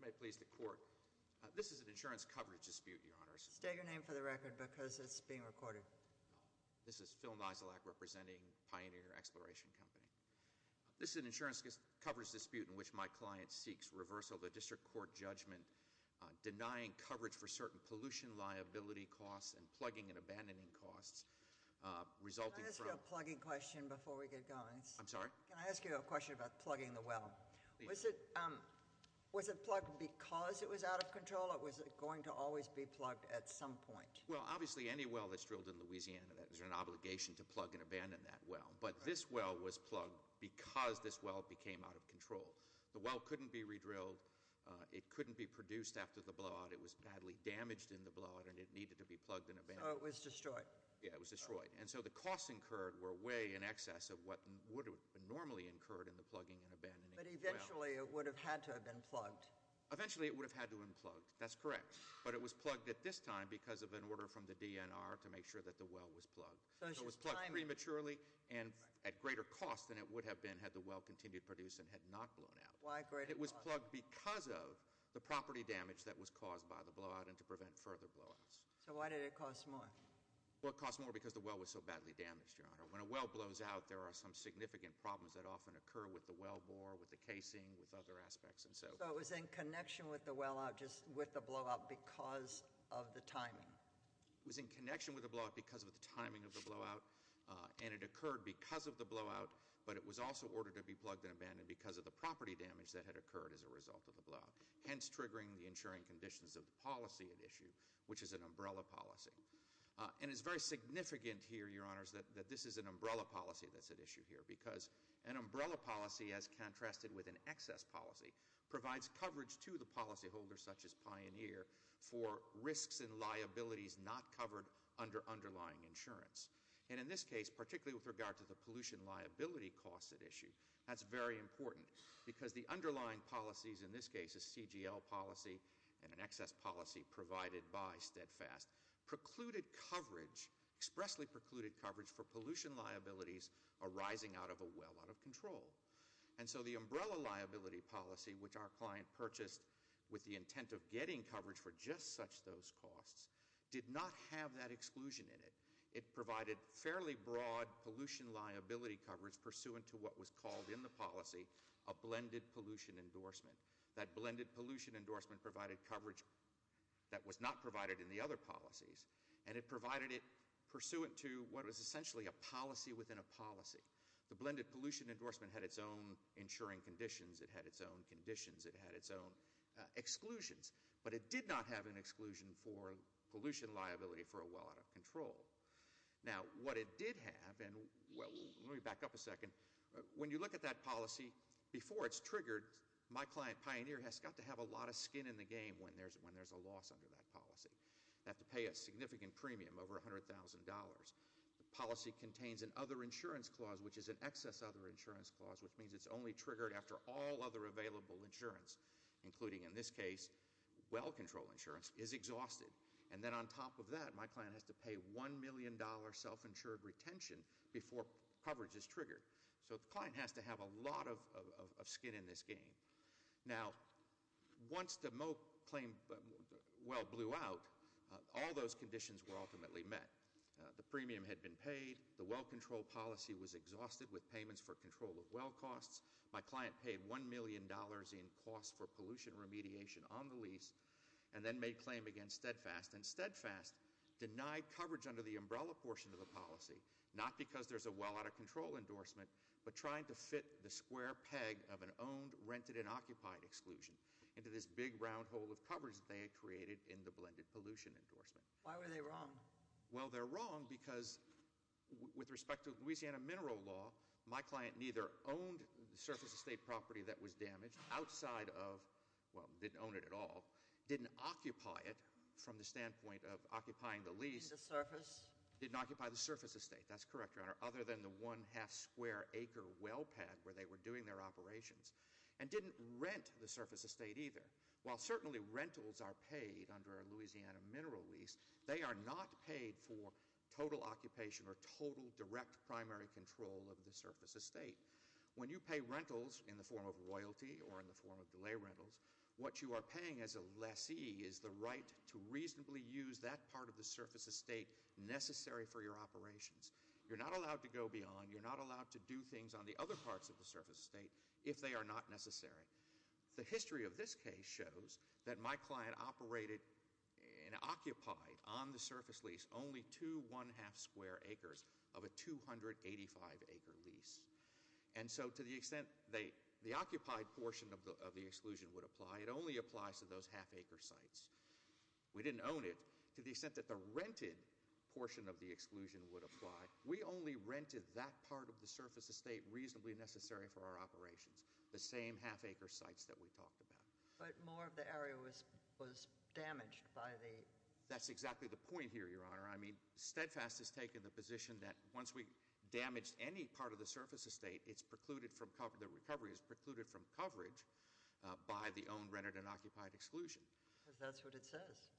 May it please the court. This is an insurance coverage dispute, your honors. Stay your name for the record because it's being recorded. This is Phil Niselak representing Pioneer Exploration Company. This is an insurance coverage dispute in which my client seeks reversal of a district court judgment denying coverage for certain pollution liability costs and plugging and abandoning costs resulting from- Can I ask you a plugging question before we get going? I'm sorry? Can I ask you a question about plugging the well? Was it plugged because it was out of control or was it going to always be plugged at some point? Well, obviously any well that's drilled in Louisiana, there's an obligation to plug and abandon that well. But this well was plugged because this well became out of control. The well couldn't be re-drilled, it couldn't be produced after the blowout, it was badly damaged in the blowout and it needed to be plugged and abandoned. Yeah, it was destroyed. And so the costs incurred were way in excess of what would have been normally incurred in the plugging and abandoning. But eventually it would have had to have been plugged. Eventually it would have had to have been plugged, that's correct. But it was plugged at this time because of an order from the DNR to make sure that the well was plugged. So it was plugged prematurely and at greater cost than it would have been had the well continued to produce and had not blown out. Why greater cost? It was plugged because of the property damage that was caused by the blowout and to prevent further blowouts. So why did it cost more? Well, it cost more because the well was so badly damaged, Your Honor. When a well blows out, there are some significant problems that often occur with the well bore, with the casing, with other aspects and so forth. So it was in connection with the blowout because of the timing? It was in connection with the blowout because of the timing of the blowout. And it occurred because of the blowout, but it was also ordered to be plugged and abandoned because of the property damage that had occurred as a result of the blowout. Hence, triggering the insuring conditions of the policy at issue, which is an umbrella policy. And it's very significant here, Your Honors, that this is an umbrella policy that's at issue here. Because an umbrella policy, as contrasted with an excess policy, provides coverage to the policy holders, such as Pioneer, for risks and liabilities not covered under underlying insurance. And in this case, particularly with regard to the pollution liability costs at issue, that's very important. Because the underlying policies, in this case a CGL policy and an excess policy provided by Steadfast, precluded coverage, expressly precluded coverage for pollution liabilities arising out of a well out of control. And so the umbrella liability policy, which our client purchased with the intent of getting coverage for just such those costs, did not have that exclusion in it. It provided fairly broad pollution liability coverage pursuant to what was called in the policy a blended pollution endorsement. That blended pollution endorsement provided coverage that was not provided in the other policies. And it provided it pursuant to what was essentially a policy within a policy. The blended pollution endorsement had its own insuring conditions, it had its own conditions, it had its own exclusions. But it did not have an exclusion for pollution liability for a well out of control. Now, what it did have, and let me back up a second. When you look at that policy, before it's triggered, my client, Pioneer, has got to have a lot of skin in the game when there's a loss under that policy. You have to pay a significant premium, over $100,000. The policy contains an other insurance clause, which is an excess other insurance clause, which means it's only triggered after all other available insurance, including in this case, well control insurance, is exhausted. And then on top of that, my client has to pay $1 million self-insured retention before coverage is triggered. So the client has to have a lot of skin in this game. Now, once the Moak claim well blew out, all those conditions were ultimately met. The premium had been paid, the well control policy was exhausted with payments for control of well costs. My client paid $1 million in costs for pollution remediation on the lease, and then made claim against Steadfast. And Steadfast denied coverage under the umbrella portion of the policy, not because there's a well out of control endorsement, but trying to fit the square peg of an owned, rented, and occupied exclusion into this big round hole of coverage that they had created in the blended pollution endorsement. Why were they wrong? Well, they're wrong because with respect to Louisiana Mineral Law, my client neither owned the surface estate property that was damaged outside of, well, didn't own it at all. Didn't occupy it from the standpoint of occupying the lease. In the surface. Didn't occupy the surface estate, that's correct, Your Honor, other than the one half square acre well pad where they were doing their operations. And didn't rent the surface estate either. While certainly rentals are paid under a Louisiana mineral lease, they are not paid for total occupation or total direct primary control of the surface estate. When you pay rentals in the form of royalty or in the form of delay rentals, what you are paying as a lessee is the right to reasonably use that part of the surface estate necessary for your operations. You're not allowed to go beyond, you're not allowed to do things on the other parts of the surface estate if they are not necessary. The history of this case shows that my client operated and occupied on the surface lease only two one half square acres of a 285 acre lease. And so to the extent the occupied portion of the exclusion would apply, it only applies to those half acre sites. We didn't own it to the extent that the rented portion of the exclusion would apply. We only rented that part of the surface estate reasonably necessary for our operations. The same half acre sites that we talked about. But more of the area was damaged by the- That's exactly the point here, Your Honor. I mean, Steadfast has taken the position that once we damage any part of the surface estate, it's precluded from cover, the recovery is precluded from coverage by the own rented and occupied exclusion. Because that's what it says.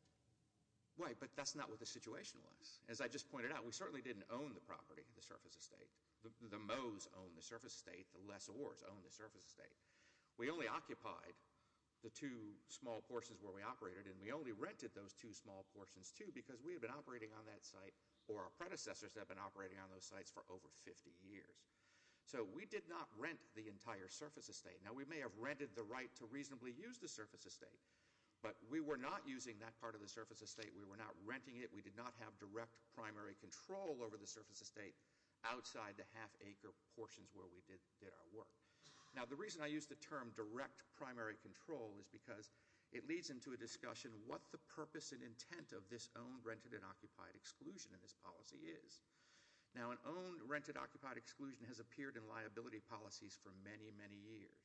Right, but that's not what the situation was. As I just pointed out, we certainly didn't own the property, the surface estate. The Moes owned the surface estate, the lessors owned the surface estate. We only occupied the two small portions where we operated, and we only rented those two small portions too, because we had been operating on that site, or our predecessors had been operating on those sites for over 50 years. So we did not rent the entire surface estate. Now we may have rented the right to reasonably use the surface estate, but we were not using that part of the surface estate. We were not renting it. We did not have direct primary control over the surface estate outside the half acre portions where we did our work. Now the reason I use the term direct primary control is because it leads into a discussion what the purpose and intent of this owned, rented, and occupied exclusion in this policy is. Now an owned, rented, occupied exclusion has appeared in liability policies for many, many years.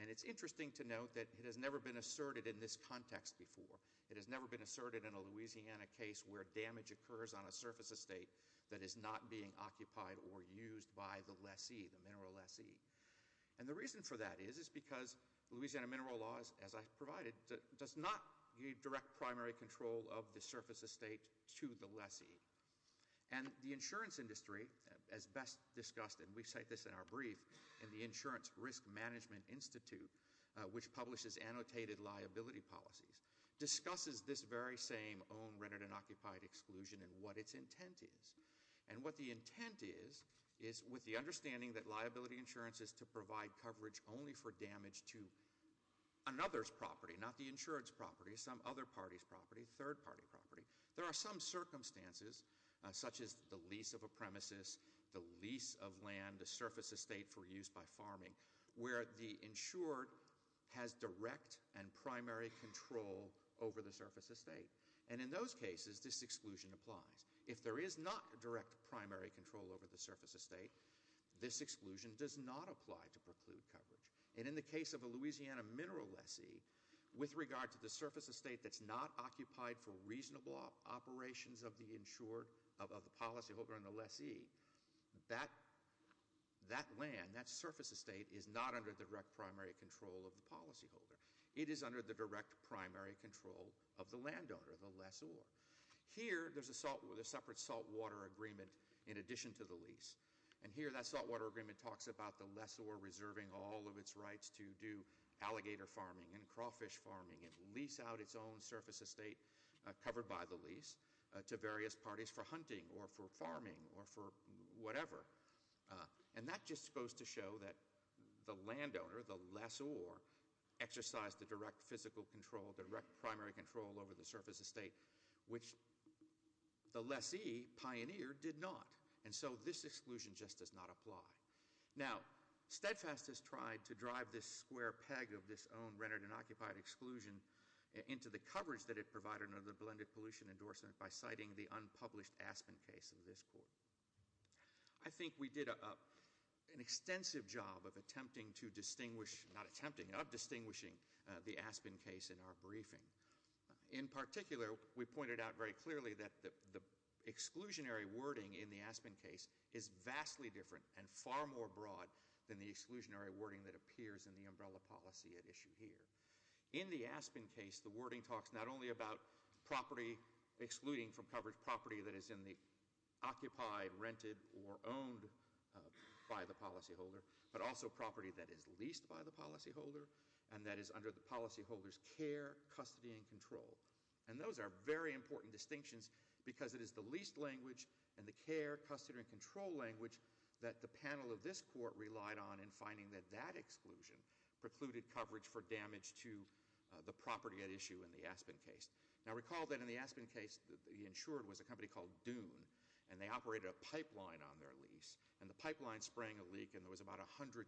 And it's interesting to note that it has never been asserted in this context before. It has never been asserted in a Louisiana case where damage occurs on a surface estate that is not being occupied or used by the lessee, the mineral lessee. And the reason for that is, is because Louisiana mineral laws, as I provided, does not give direct primary control of the surface estate to the lessee. And the insurance industry, as best discussed, and we cite this in our brief, in the Insurance Risk Management Institute, which publishes annotated liability policies, discusses this very same owned, rented, and occupied exclusion and what its intent is. And what the intent is, is with the understanding that liability insurance is to provide coverage only for damage to another's property, not the insurance property, some other party's property, third party property. There are some circumstances, such as the lease of a premises, the lease of land, and the surface estate for use by farming, where the insured has direct and primary control over the surface estate. And in those cases, this exclusion applies. If there is not direct primary control over the surface estate, this exclusion does not apply to preclude coverage. And in the case of a Louisiana mineral lessee, with regard to the surface estate that's not occupied for reasonable operations of the policy holder and the lessee, that land, that surface estate is not under the direct primary control of the policy holder. It is under the direct primary control of the landowner, the lessor. Here, there's a separate salt water agreement in addition to the lease. And here, that salt water agreement talks about the lessor reserving all of its rights to do alligator farming and crawfish farming and lease out its own surface estate covered by the lease to various parties for whatever, and that just goes to show that the landowner, the lessor, exercised the direct physical control, direct primary control over the surface estate, which the lessee pioneered did not. And so this exclusion just does not apply. Now, Steadfast has tried to drive this square peg of this own rented and occupied exclusion into the coverage that it provided under the blended pollution endorsement by citing the unpublished Aspen case in this court. I think we did an extensive job of attempting to distinguish, not attempting, of distinguishing the Aspen case in our briefing. In particular, we pointed out very clearly that the exclusionary wording in the Aspen case is vastly different and far more broad than the exclusionary wording that appears in the umbrella policy at issue here. In the Aspen case, the wording talks not only about property excluding from coverage property that is in the occupied, rented, or owned by the policyholder, but also property that is leased by the policyholder. And that is under the policyholder's care, custody, and control. And those are very important distinctions because it is the leased language and the care, custody, and control language that the panel of this court relied on in finding that that exclusion precluded coverage for damage to the property at issue in the Aspen case. Now recall that in the Aspen case, the insured was a company called Dune, and they operated a pipeline on their lease. And the pipeline sprang a leak, and there was about 120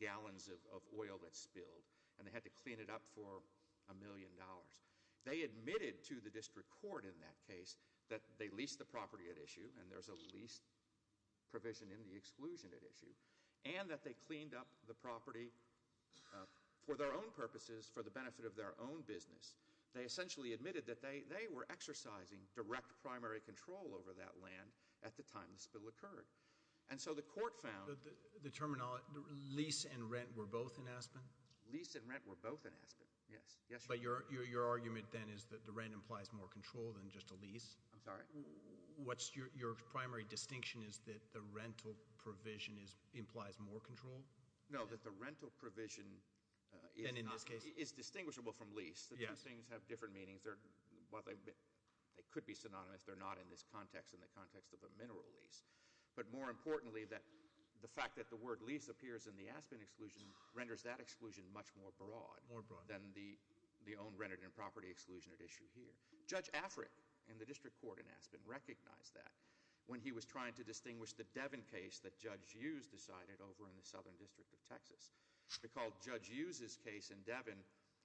gallons of oil that spilled, and they had to clean it up for a million dollars. They admitted to the district court in that case that they leased the property at issue, and there's a lease provision in the exclusion at issue, and that they cleaned up the property for their own purposes, for the benefit of their own business. They essentially admitted that they were exercising direct primary control over that land at the time the spill occurred. And so the court found- The terminology, lease and rent were both in Aspen? Lease and rent were both in Aspen, yes. But your argument then is that the rent implies more control than just a lease? I'm sorry? What's your primary distinction is that the rental provision implies more control? No, that the rental provision is not- Then in this case? It's distinguishable from lease. The two things have different meanings. They could be synonymous. They're not in this context, in the context of a mineral lease. But more importantly, the fact that the word lease appears in the Aspen exclusion renders that exclusion much more broad. More broad. Than the own rented and property exclusion at issue here. Judge Afric in the district court in Aspen recognized that when he was trying to distinguish the Devon case that Judge Hughes decided over in the Southern District of Texas. Recalled Judge Hughes' case in Devon,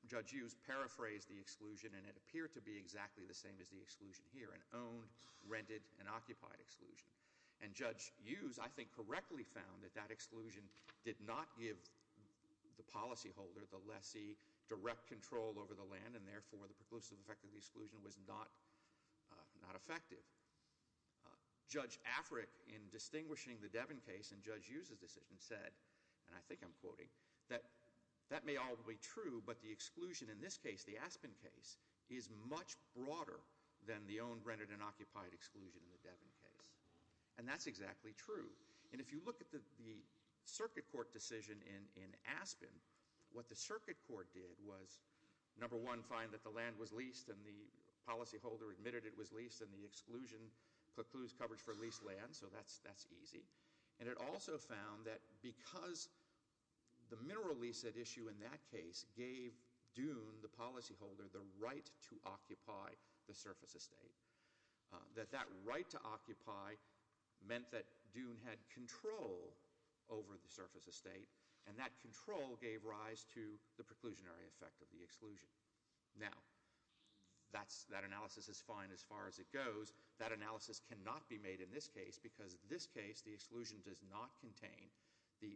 Judge Hughes paraphrased the exclusion and it appeared to be exactly the same as the exclusion here, an owned, rented, and occupied exclusion. And Judge Hughes, I think, correctly found that that exclusion did not give the policy holder, the lessee, direct control over the land and therefore the preclusive effect of the exclusion was not effective. Judge Afric, in distinguishing the Devon case in Judge Hughes' decision, said, and I think I'm quoting, that that may all be true, but the exclusion in this case, the Aspen case, is much broader than the owned, rented, and occupied exclusion in the Devon case. And that's exactly true. And if you look at the circuit court decision in Aspen, what the circuit court did was, number one, find that the land was leased and the policy holder admitted it was leased and the exclusion precludes coverage for leased land. So that's easy. And it also found that because the mineral lease at issue in that case gave Dune, the policy holder, the right to occupy the surface estate. That that right to occupy meant that Dune had control over the surface estate and that control gave rise to the preclusionary effect of the exclusion. Now, that analysis is fine as far as it goes. That analysis cannot be made in this case because this case, the exclusion does not contain the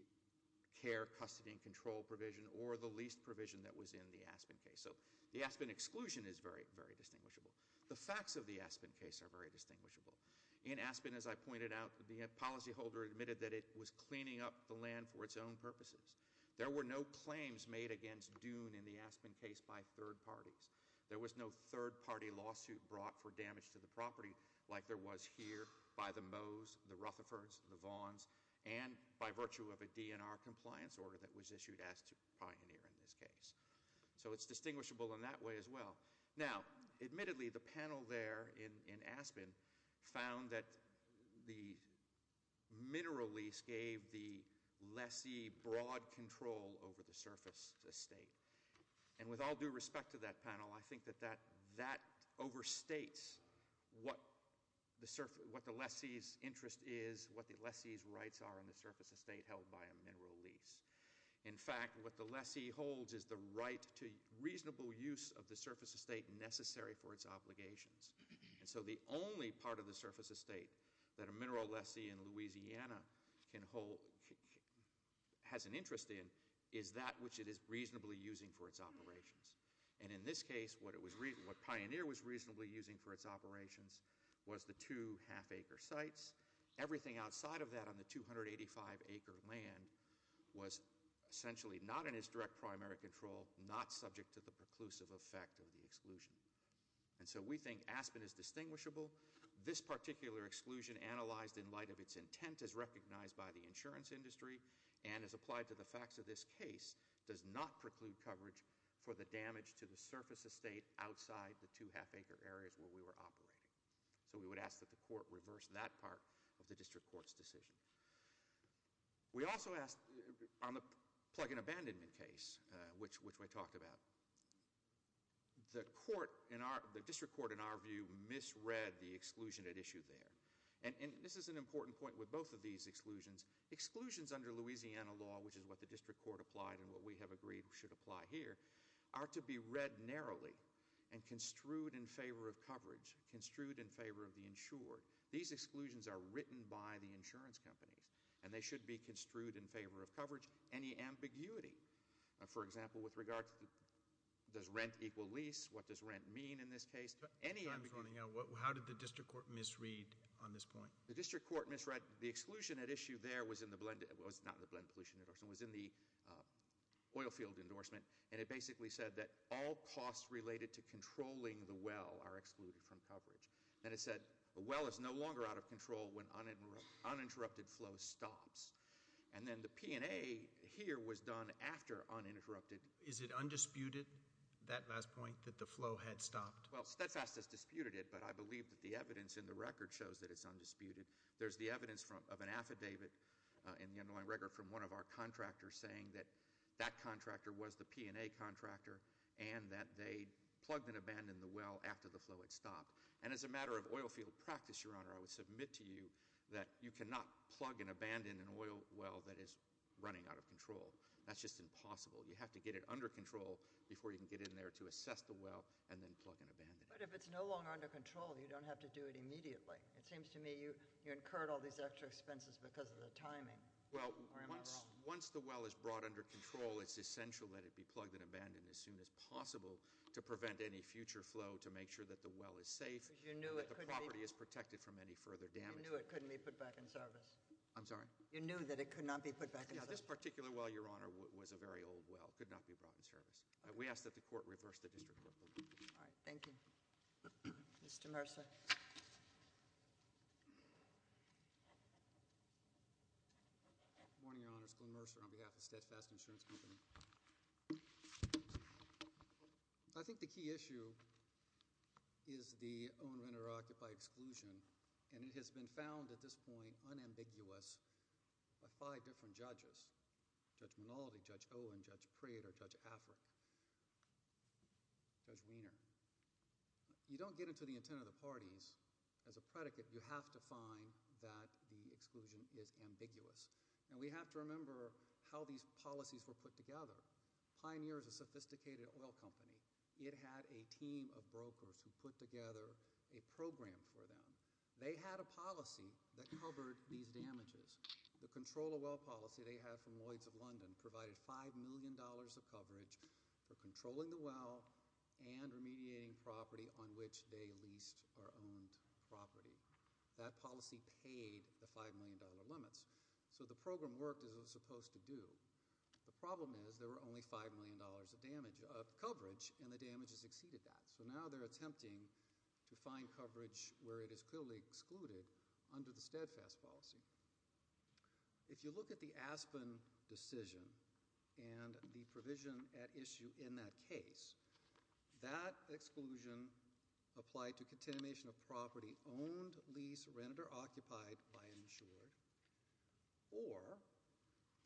care, custody, and control provision or the leased provision that was in the Aspen case. So the Aspen exclusion is very, very distinguishable. The facts of the Aspen case are very distinguishable. In Aspen, as I pointed out, the policy holder admitted that it was cleaning up the land for its own purposes. There were no claims made against Dune in the Aspen case by third parties. There was no third party lawsuit brought for damage to the property like there was here by the Moes, the Rutherfords, the Vaughns, and by virtue of a DNR compliance order that was issued as to pioneer in this case. So it's distinguishable in that way as well. Now, admittedly, the panel there in Aspen found that the mineral lease gave the lessee broad control over the surface estate. And with all due respect to that panel, I think that that overstates what the lessee's interest is, what the lessee's rights are in the surface estate held by a mineral lease. In fact, what the lessee holds is the right to reasonable use of the surface estate necessary for its obligations. And so the only part of the surface estate that a mineral lessee in Louisiana has an interest in is that which it is reasonably using for its operations. And in this case, what Pioneer was reasonably using for its operations was the two half acre sites. Everything outside of that on the 285 acre land was essentially not in its direct primary control, not subject to the preclusive effect of the exclusion. And so we think Aspen is distinguishable. This particular exclusion analyzed in light of its intent as recognized by the insurance industry and as applied to the facts of this case does not preclude coverage for the damage to the surface estate outside the two half acre areas where we were operating. So we would ask that the court reverse that part of the district court's decision. We also ask, on the plug in abandonment case, which we talked about. The district court, in our view, misread the exclusion at issue there. And this is an important point with both of these exclusions. Exclusions under Louisiana law, which is what the district court applied and what we have agreed should apply here, are to be read narrowly and construed in favor of coverage, construed in favor of the insured. These exclusions are written by the insurance companies, and they should be construed in favor of coverage. Any ambiguity, for example, with regard to does rent equal lease? What does rent mean in this case? Any ambiguity- I'm just wondering, how did the district court misread on this point? The district court misread the exclusion at issue there was in the blend, it was not in the blend pollution endorsement, it was in the oil field endorsement, and it basically said that all costs related to controlling the well are excluded from coverage. And it said, a well is no longer out of control when uninterrupted flow stops. And then the P&A here was done after uninterrupted- Is it undisputed, that last point, that the flow had stopped? Well, Steadfast has disputed it, but I believe that the evidence in the record shows that it's undisputed. There's the evidence of an affidavit in the underlying record from one of our contractors saying that that contractor was the P&A contractor. And that they plugged and abandoned the well after the flow had stopped. And as a matter of oil field practice, your honor, I would submit to you that you cannot plug and abandon an oil well that is running out of control, that's just impossible. You have to get it under control before you can get in there to assess the well and then plug and abandon it. But if it's no longer under control, you don't have to do it immediately. It seems to me you incurred all these extra expenses because of the timing. Or am I wrong? Once the well is brought under control, it's essential that it be plugged and abandoned as soon as possible to prevent any future flow to make sure that the well is safe. You knew it couldn't be- That the property is protected from any further damage. You knew it couldn't be put back in service. I'm sorry? You knew that it could not be put back in service? Yes, this particular well, your honor, was a very old well, could not be brought in service. We ask that the court reverse the district court ruling. All right, thank you. Mr. Mercer. Good morning, your honors. Glenn Mercer on behalf of Steadfast Insurance Company. I think the key issue is the owner-renter-occupier exclusion. And it has been found at this point unambiguous by five different judges. Judge Monaldi, Judge Owen, Judge Prater, Judge Afric. Judge Weiner. You don't get into the intent of the parties. As a predicate, you have to find that the exclusion is ambiguous. And we have to remember how these policies were put together. Pioneer is a sophisticated oil company. It had a team of brokers who put together a program for them. They had a policy that covered these damages. The control of well policy they had from Lloyd's of London provided $5 million of coverage for controlling the well and remediating property on which they leased or owned property. That policy paid the $5 million limits. So the program worked as it was supposed to do. The problem is there were only $5 million of coverage and the damage has exceeded that. So now they're attempting to find coverage where it is clearly excluded under the steadfast policy. If you look at the Aspen decision and the provision at issue in that case, that exclusion applied to continuation of property owned, leased, rented, or occupied by an insured. Or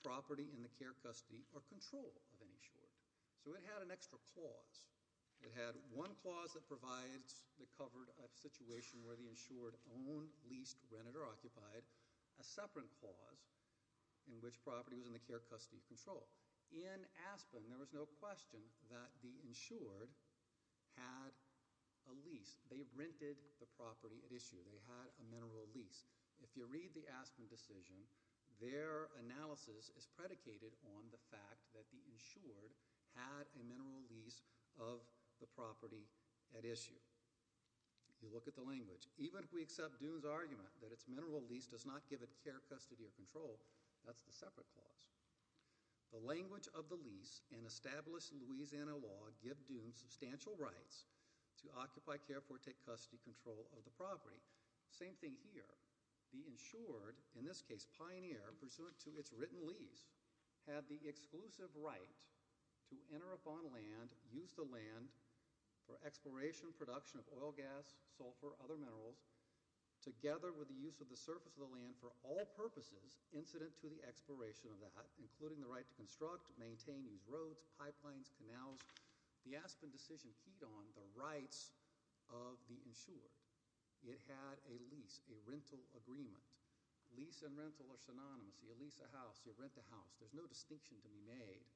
property in the care, custody, or control of an insured. So it had an extra clause. It had one clause that provides, that covered a situation where the insured owned, leased, rented, or occupied. A separate clause in which property was in the care, custody, or control. In Aspen, there was no question that the insured had a lease. They rented the property at issue. They had a mineral lease. If you read the Aspen decision, their analysis is predicated on the fact that the insured had a mineral lease of the property at issue. You look at the language. Even if we accept Dune's argument that it's mineral lease does not give it care, custody, or control, that's the separate clause. The language of the lease and established Louisiana law give Dune substantial rights to occupy, care for, take custody, control of the property. Same thing here. The insured, in this case, Pioneer, pursuant to its written lease, had the exclusive right to enter upon land, use the land for exploration, production of oil, gas, sulfur, other minerals, together with the use of the surface of the land for all purposes incident to the exploration of that, including the right to construct, maintain, use roads, pipelines, canals. The Aspen decision keyed on the rights of the insured. It had a lease, a rental agreement. Lease and rental are synonymous. You lease a house, you rent a house. There's no distinction to be made.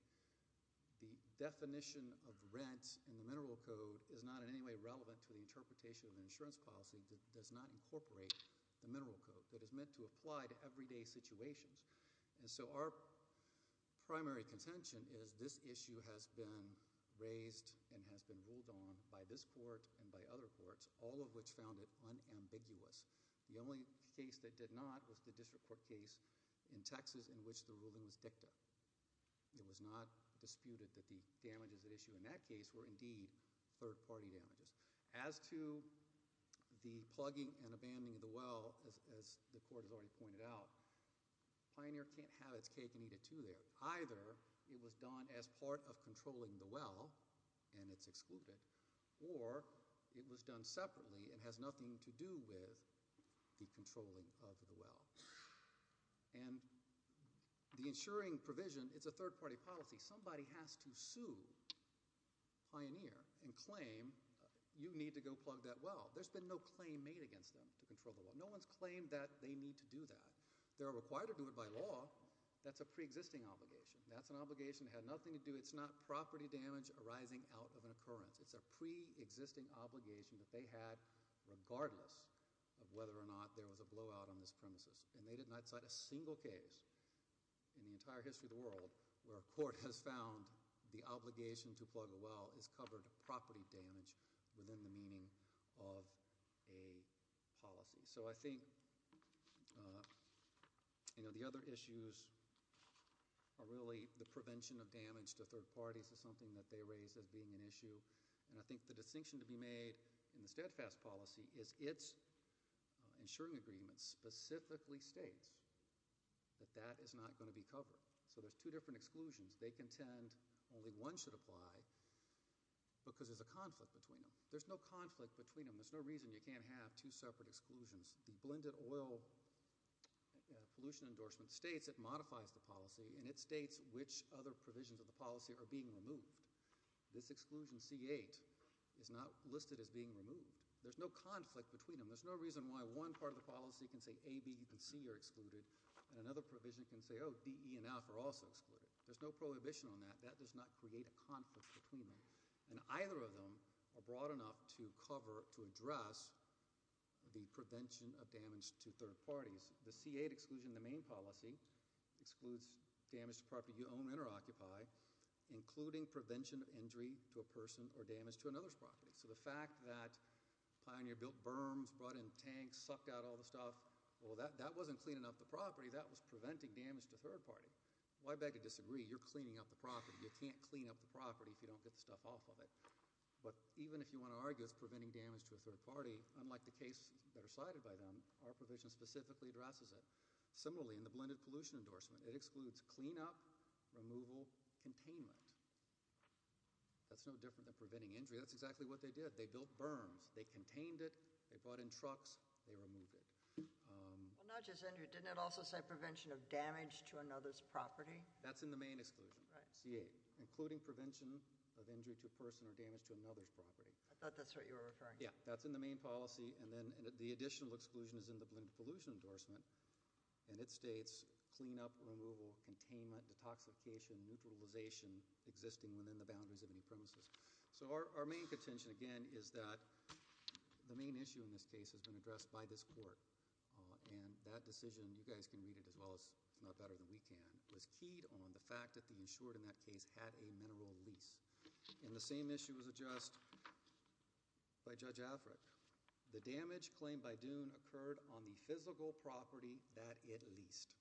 The definition of rent in the mineral code is not in any way relevant to the interpretation of an insurance policy that does not incorporate the mineral code that is meant to apply to everyday situations. And so our primary contention is this issue has been raised and has been ruled on by this court and by other courts, all of which found it unambiguous. The only case that did not was the district court case in Texas in which the ruling was dicta. It was not disputed that the damages at issue in that case were indeed third party damages. As to the plugging and abandoning of the well, as the court has already pointed out, Pioneer can't have its cake and eat it too there, either it was done as part of controlling the well. And it's excluded, or it was done separately and has nothing to do with the controlling of the well. And the insuring provision, it's a third party policy. Somebody has to sue Pioneer and claim you need to go plug that well. There's been no claim made against them to control the well. No one's claimed that they need to do that. They're required to do it by law. That's a pre-existing obligation. That's an obligation that had nothing to do. It's not property damage arising out of an occurrence. It's a pre-existing obligation that they had regardless of whether or not there was a blowout on this premises. And they did not cite a single case in the entire history of the world where a court has found the obligation to plug a well is covered property damage within the meaning of a policy. So I think, you know, the other issues are really the prevention of damage to third parties is something that they raise as being an issue. And I think the distinction to be made in the steadfast policy is its insuring agreement specifically states that that is not going to be covered. So there's two different exclusions. They contend only one should apply because there's a conflict between them. There's no conflict between them. There's no reason you can't have two separate exclusions. The blended oil pollution endorsement states it modifies the policy and it states which other provisions of the policy are being removed. This exclusion C8 is not listed as being removed. There's no conflict between them. There's no reason why one part of the policy can say A, B, and C are excluded, and another provision can say, oh, D, E, and F are also excluded. There's no prohibition on that. That does not create a conflict between them. And either of them are broad enough to cover, to address the prevention of damage to third parties. The C8 exclusion, the main policy, excludes damage to property you own and or occupy, including prevention of injury to a person or damage to another's property. So the fact that Pioneer built berms, brought in tanks, sucked out all the stuff, well, that wasn't cleaning up the property. That was preventing damage to third party. You're cleaning up the property. You can't clean up the property if you don't get the stuff off of it. But even if you want to argue it's preventing damage to a third party, unlike the case that are cited by them, our provision specifically addresses it. Similarly, in the blended pollution endorsement, it excludes clean up, removal, containment. That's no different than preventing injury. That's exactly what they did. They built berms. They contained it. They brought in trucks. They removed it. Well, not just injury, didn't it also say prevention of damage to another's property? That's in the main exclusion, C8, including prevention of injury to a person or damage to another's property. I thought that's what you were referring to. Yeah, that's in the main policy, and then the additional exclusion is in the blended pollution endorsement. And it states clean up, removal, containment, detoxification, neutralization existing within the boundaries of any premises. So our main contention again is that the main issue in this case has been addressed by this court. And that decision, you guys can read it as well, it's not better than we can, was keyed on the fact that the insured in that case had a mineral lease. And the same issue was addressed by Judge Afric. The damage claimed by Dune occurred on the physical property that it leased.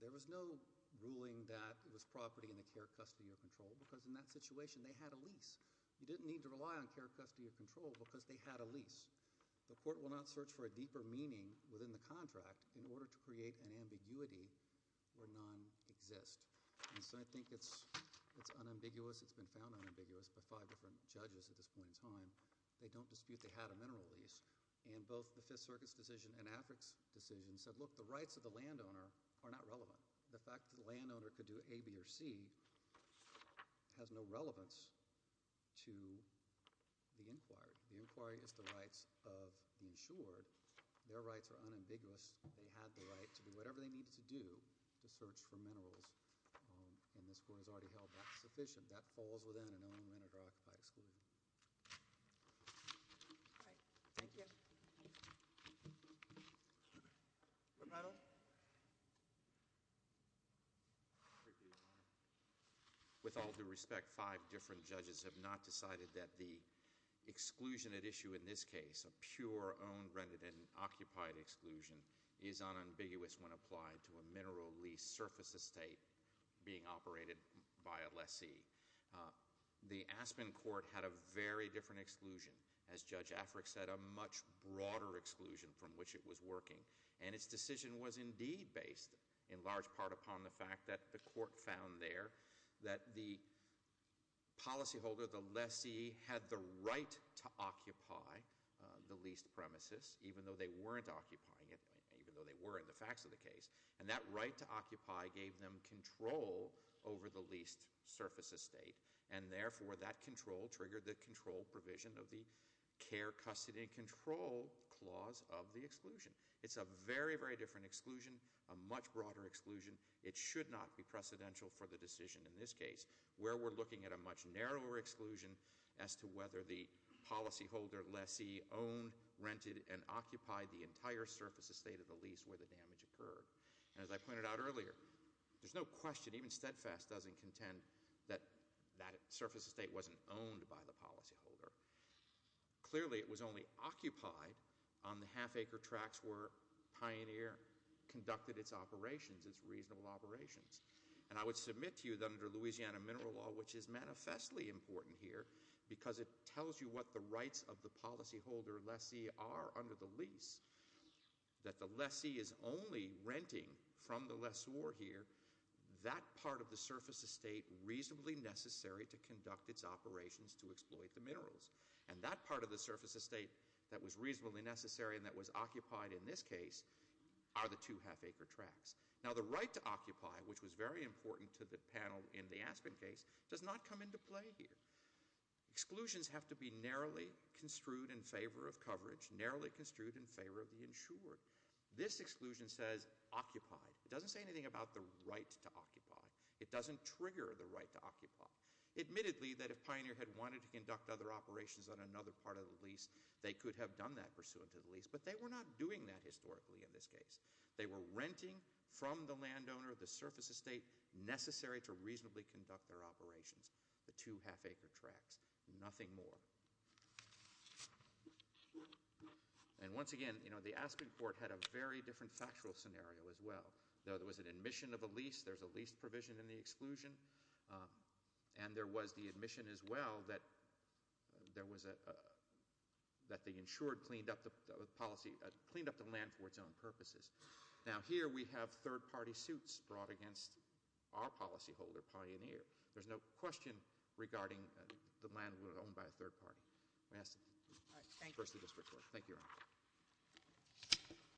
There was no ruling that it was property in the care, custody, or control, because in that situation they had a lease. You didn't need to rely on care, custody, or control because they had a lease. The court will not search for a deeper meaning within the contract in order to create an ambiguity where none exist. And so I think it's unambiguous, it's been found unambiguous by five different judges at this point in time. They don't dispute they had a mineral lease. And both the Fifth Circuit's decision and Afric's decision said, look, the rights of the landowner are not relevant. The fact that the landowner could do A, B, or C has no relevance to the inquiry. The inquiry is the rights of the insured. Their rights are unambiguous. They had the right to do whatever they needed to do to search for minerals. And this court has already held that sufficient. That falls within an owner-manager occupy exclusion. All right, thank you. Thank you. Repetal. With all due respect, five different judges have not decided that the exclusion at issue in this case, a pure owned, rented, and occupied exclusion is unambiguous when applied to a mineral lease surface estate being operated by a lessee. The Aspen court had a very different exclusion. As Judge Afric said, a much broader exclusion from which it was working. And its decision was indeed based in large part upon the fact that the court found there that the policyholder, the lessee, had the right to occupy the leased premises, even though they weren't occupying it, even though they were in the facts of the case. And that right to occupy gave them control over the leased surface estate. And therefore, that control triggered the control provision of the care, custody, and control clause of the exclusion. It's a very, very different exclusion, a much broader exclusion. It should not be precedential for the decision in this case, where we're looking at a much narrower exclusion as to whether the policyholder, lessee, owned, rented, and occupied the entire surface estate of the lease where the damage occurred. And as I pointed out earlier, there's no question, even steadfast, doesn't contend that that surface estate wasn't owned by the policyholder. Clearly, it was only occupied on the half acre tracks where Pioneer conducted its operations, its reasonable operations. And I would submit to you that under Louisiana Mineral Law, which is manifestly important here, because it tells you what the rights of the policyholder, lessee, are under the lease, that the lessee is only renting from the lessor here that part of the surface estate reasonably necessary to conduct its operations to exploit the minerals. And that part of the surface estate that was reasonably necessary and that was occupied in this case are the two half acre tracks. Now, the right to occupy, which was very important to the panel in the Aspen case, does not come into play here. Exclusions have to be narrowly construed in favor of coverage, narrowly construed in favor of the insured. This exclusion says occupied. It doesn't say anything about the right to occupy. It doesn't trigger the right to occupy. Admittedly, that if Pioneer had wanted to conduct other operations on another part of the lease, they could have done that pursuant to the lease, but they were not doing that historically in this case. They were renting from the landowner the surface estate necessary to reasonably conduct their operations, the two half acre tracks, nothing more. And once again, the Aspen court had a very different factual scenario as well. There was an admission of a lease. There's a lease provision in the exclusion. And there was the admission as well that the insured cleaned up the policy, cleaned up the land for its own purposes. Now, here we have third party suits brought against our policy holder, Pioneer. There's no question regarding the land that was owned by a third party. Thank you, Your Honor.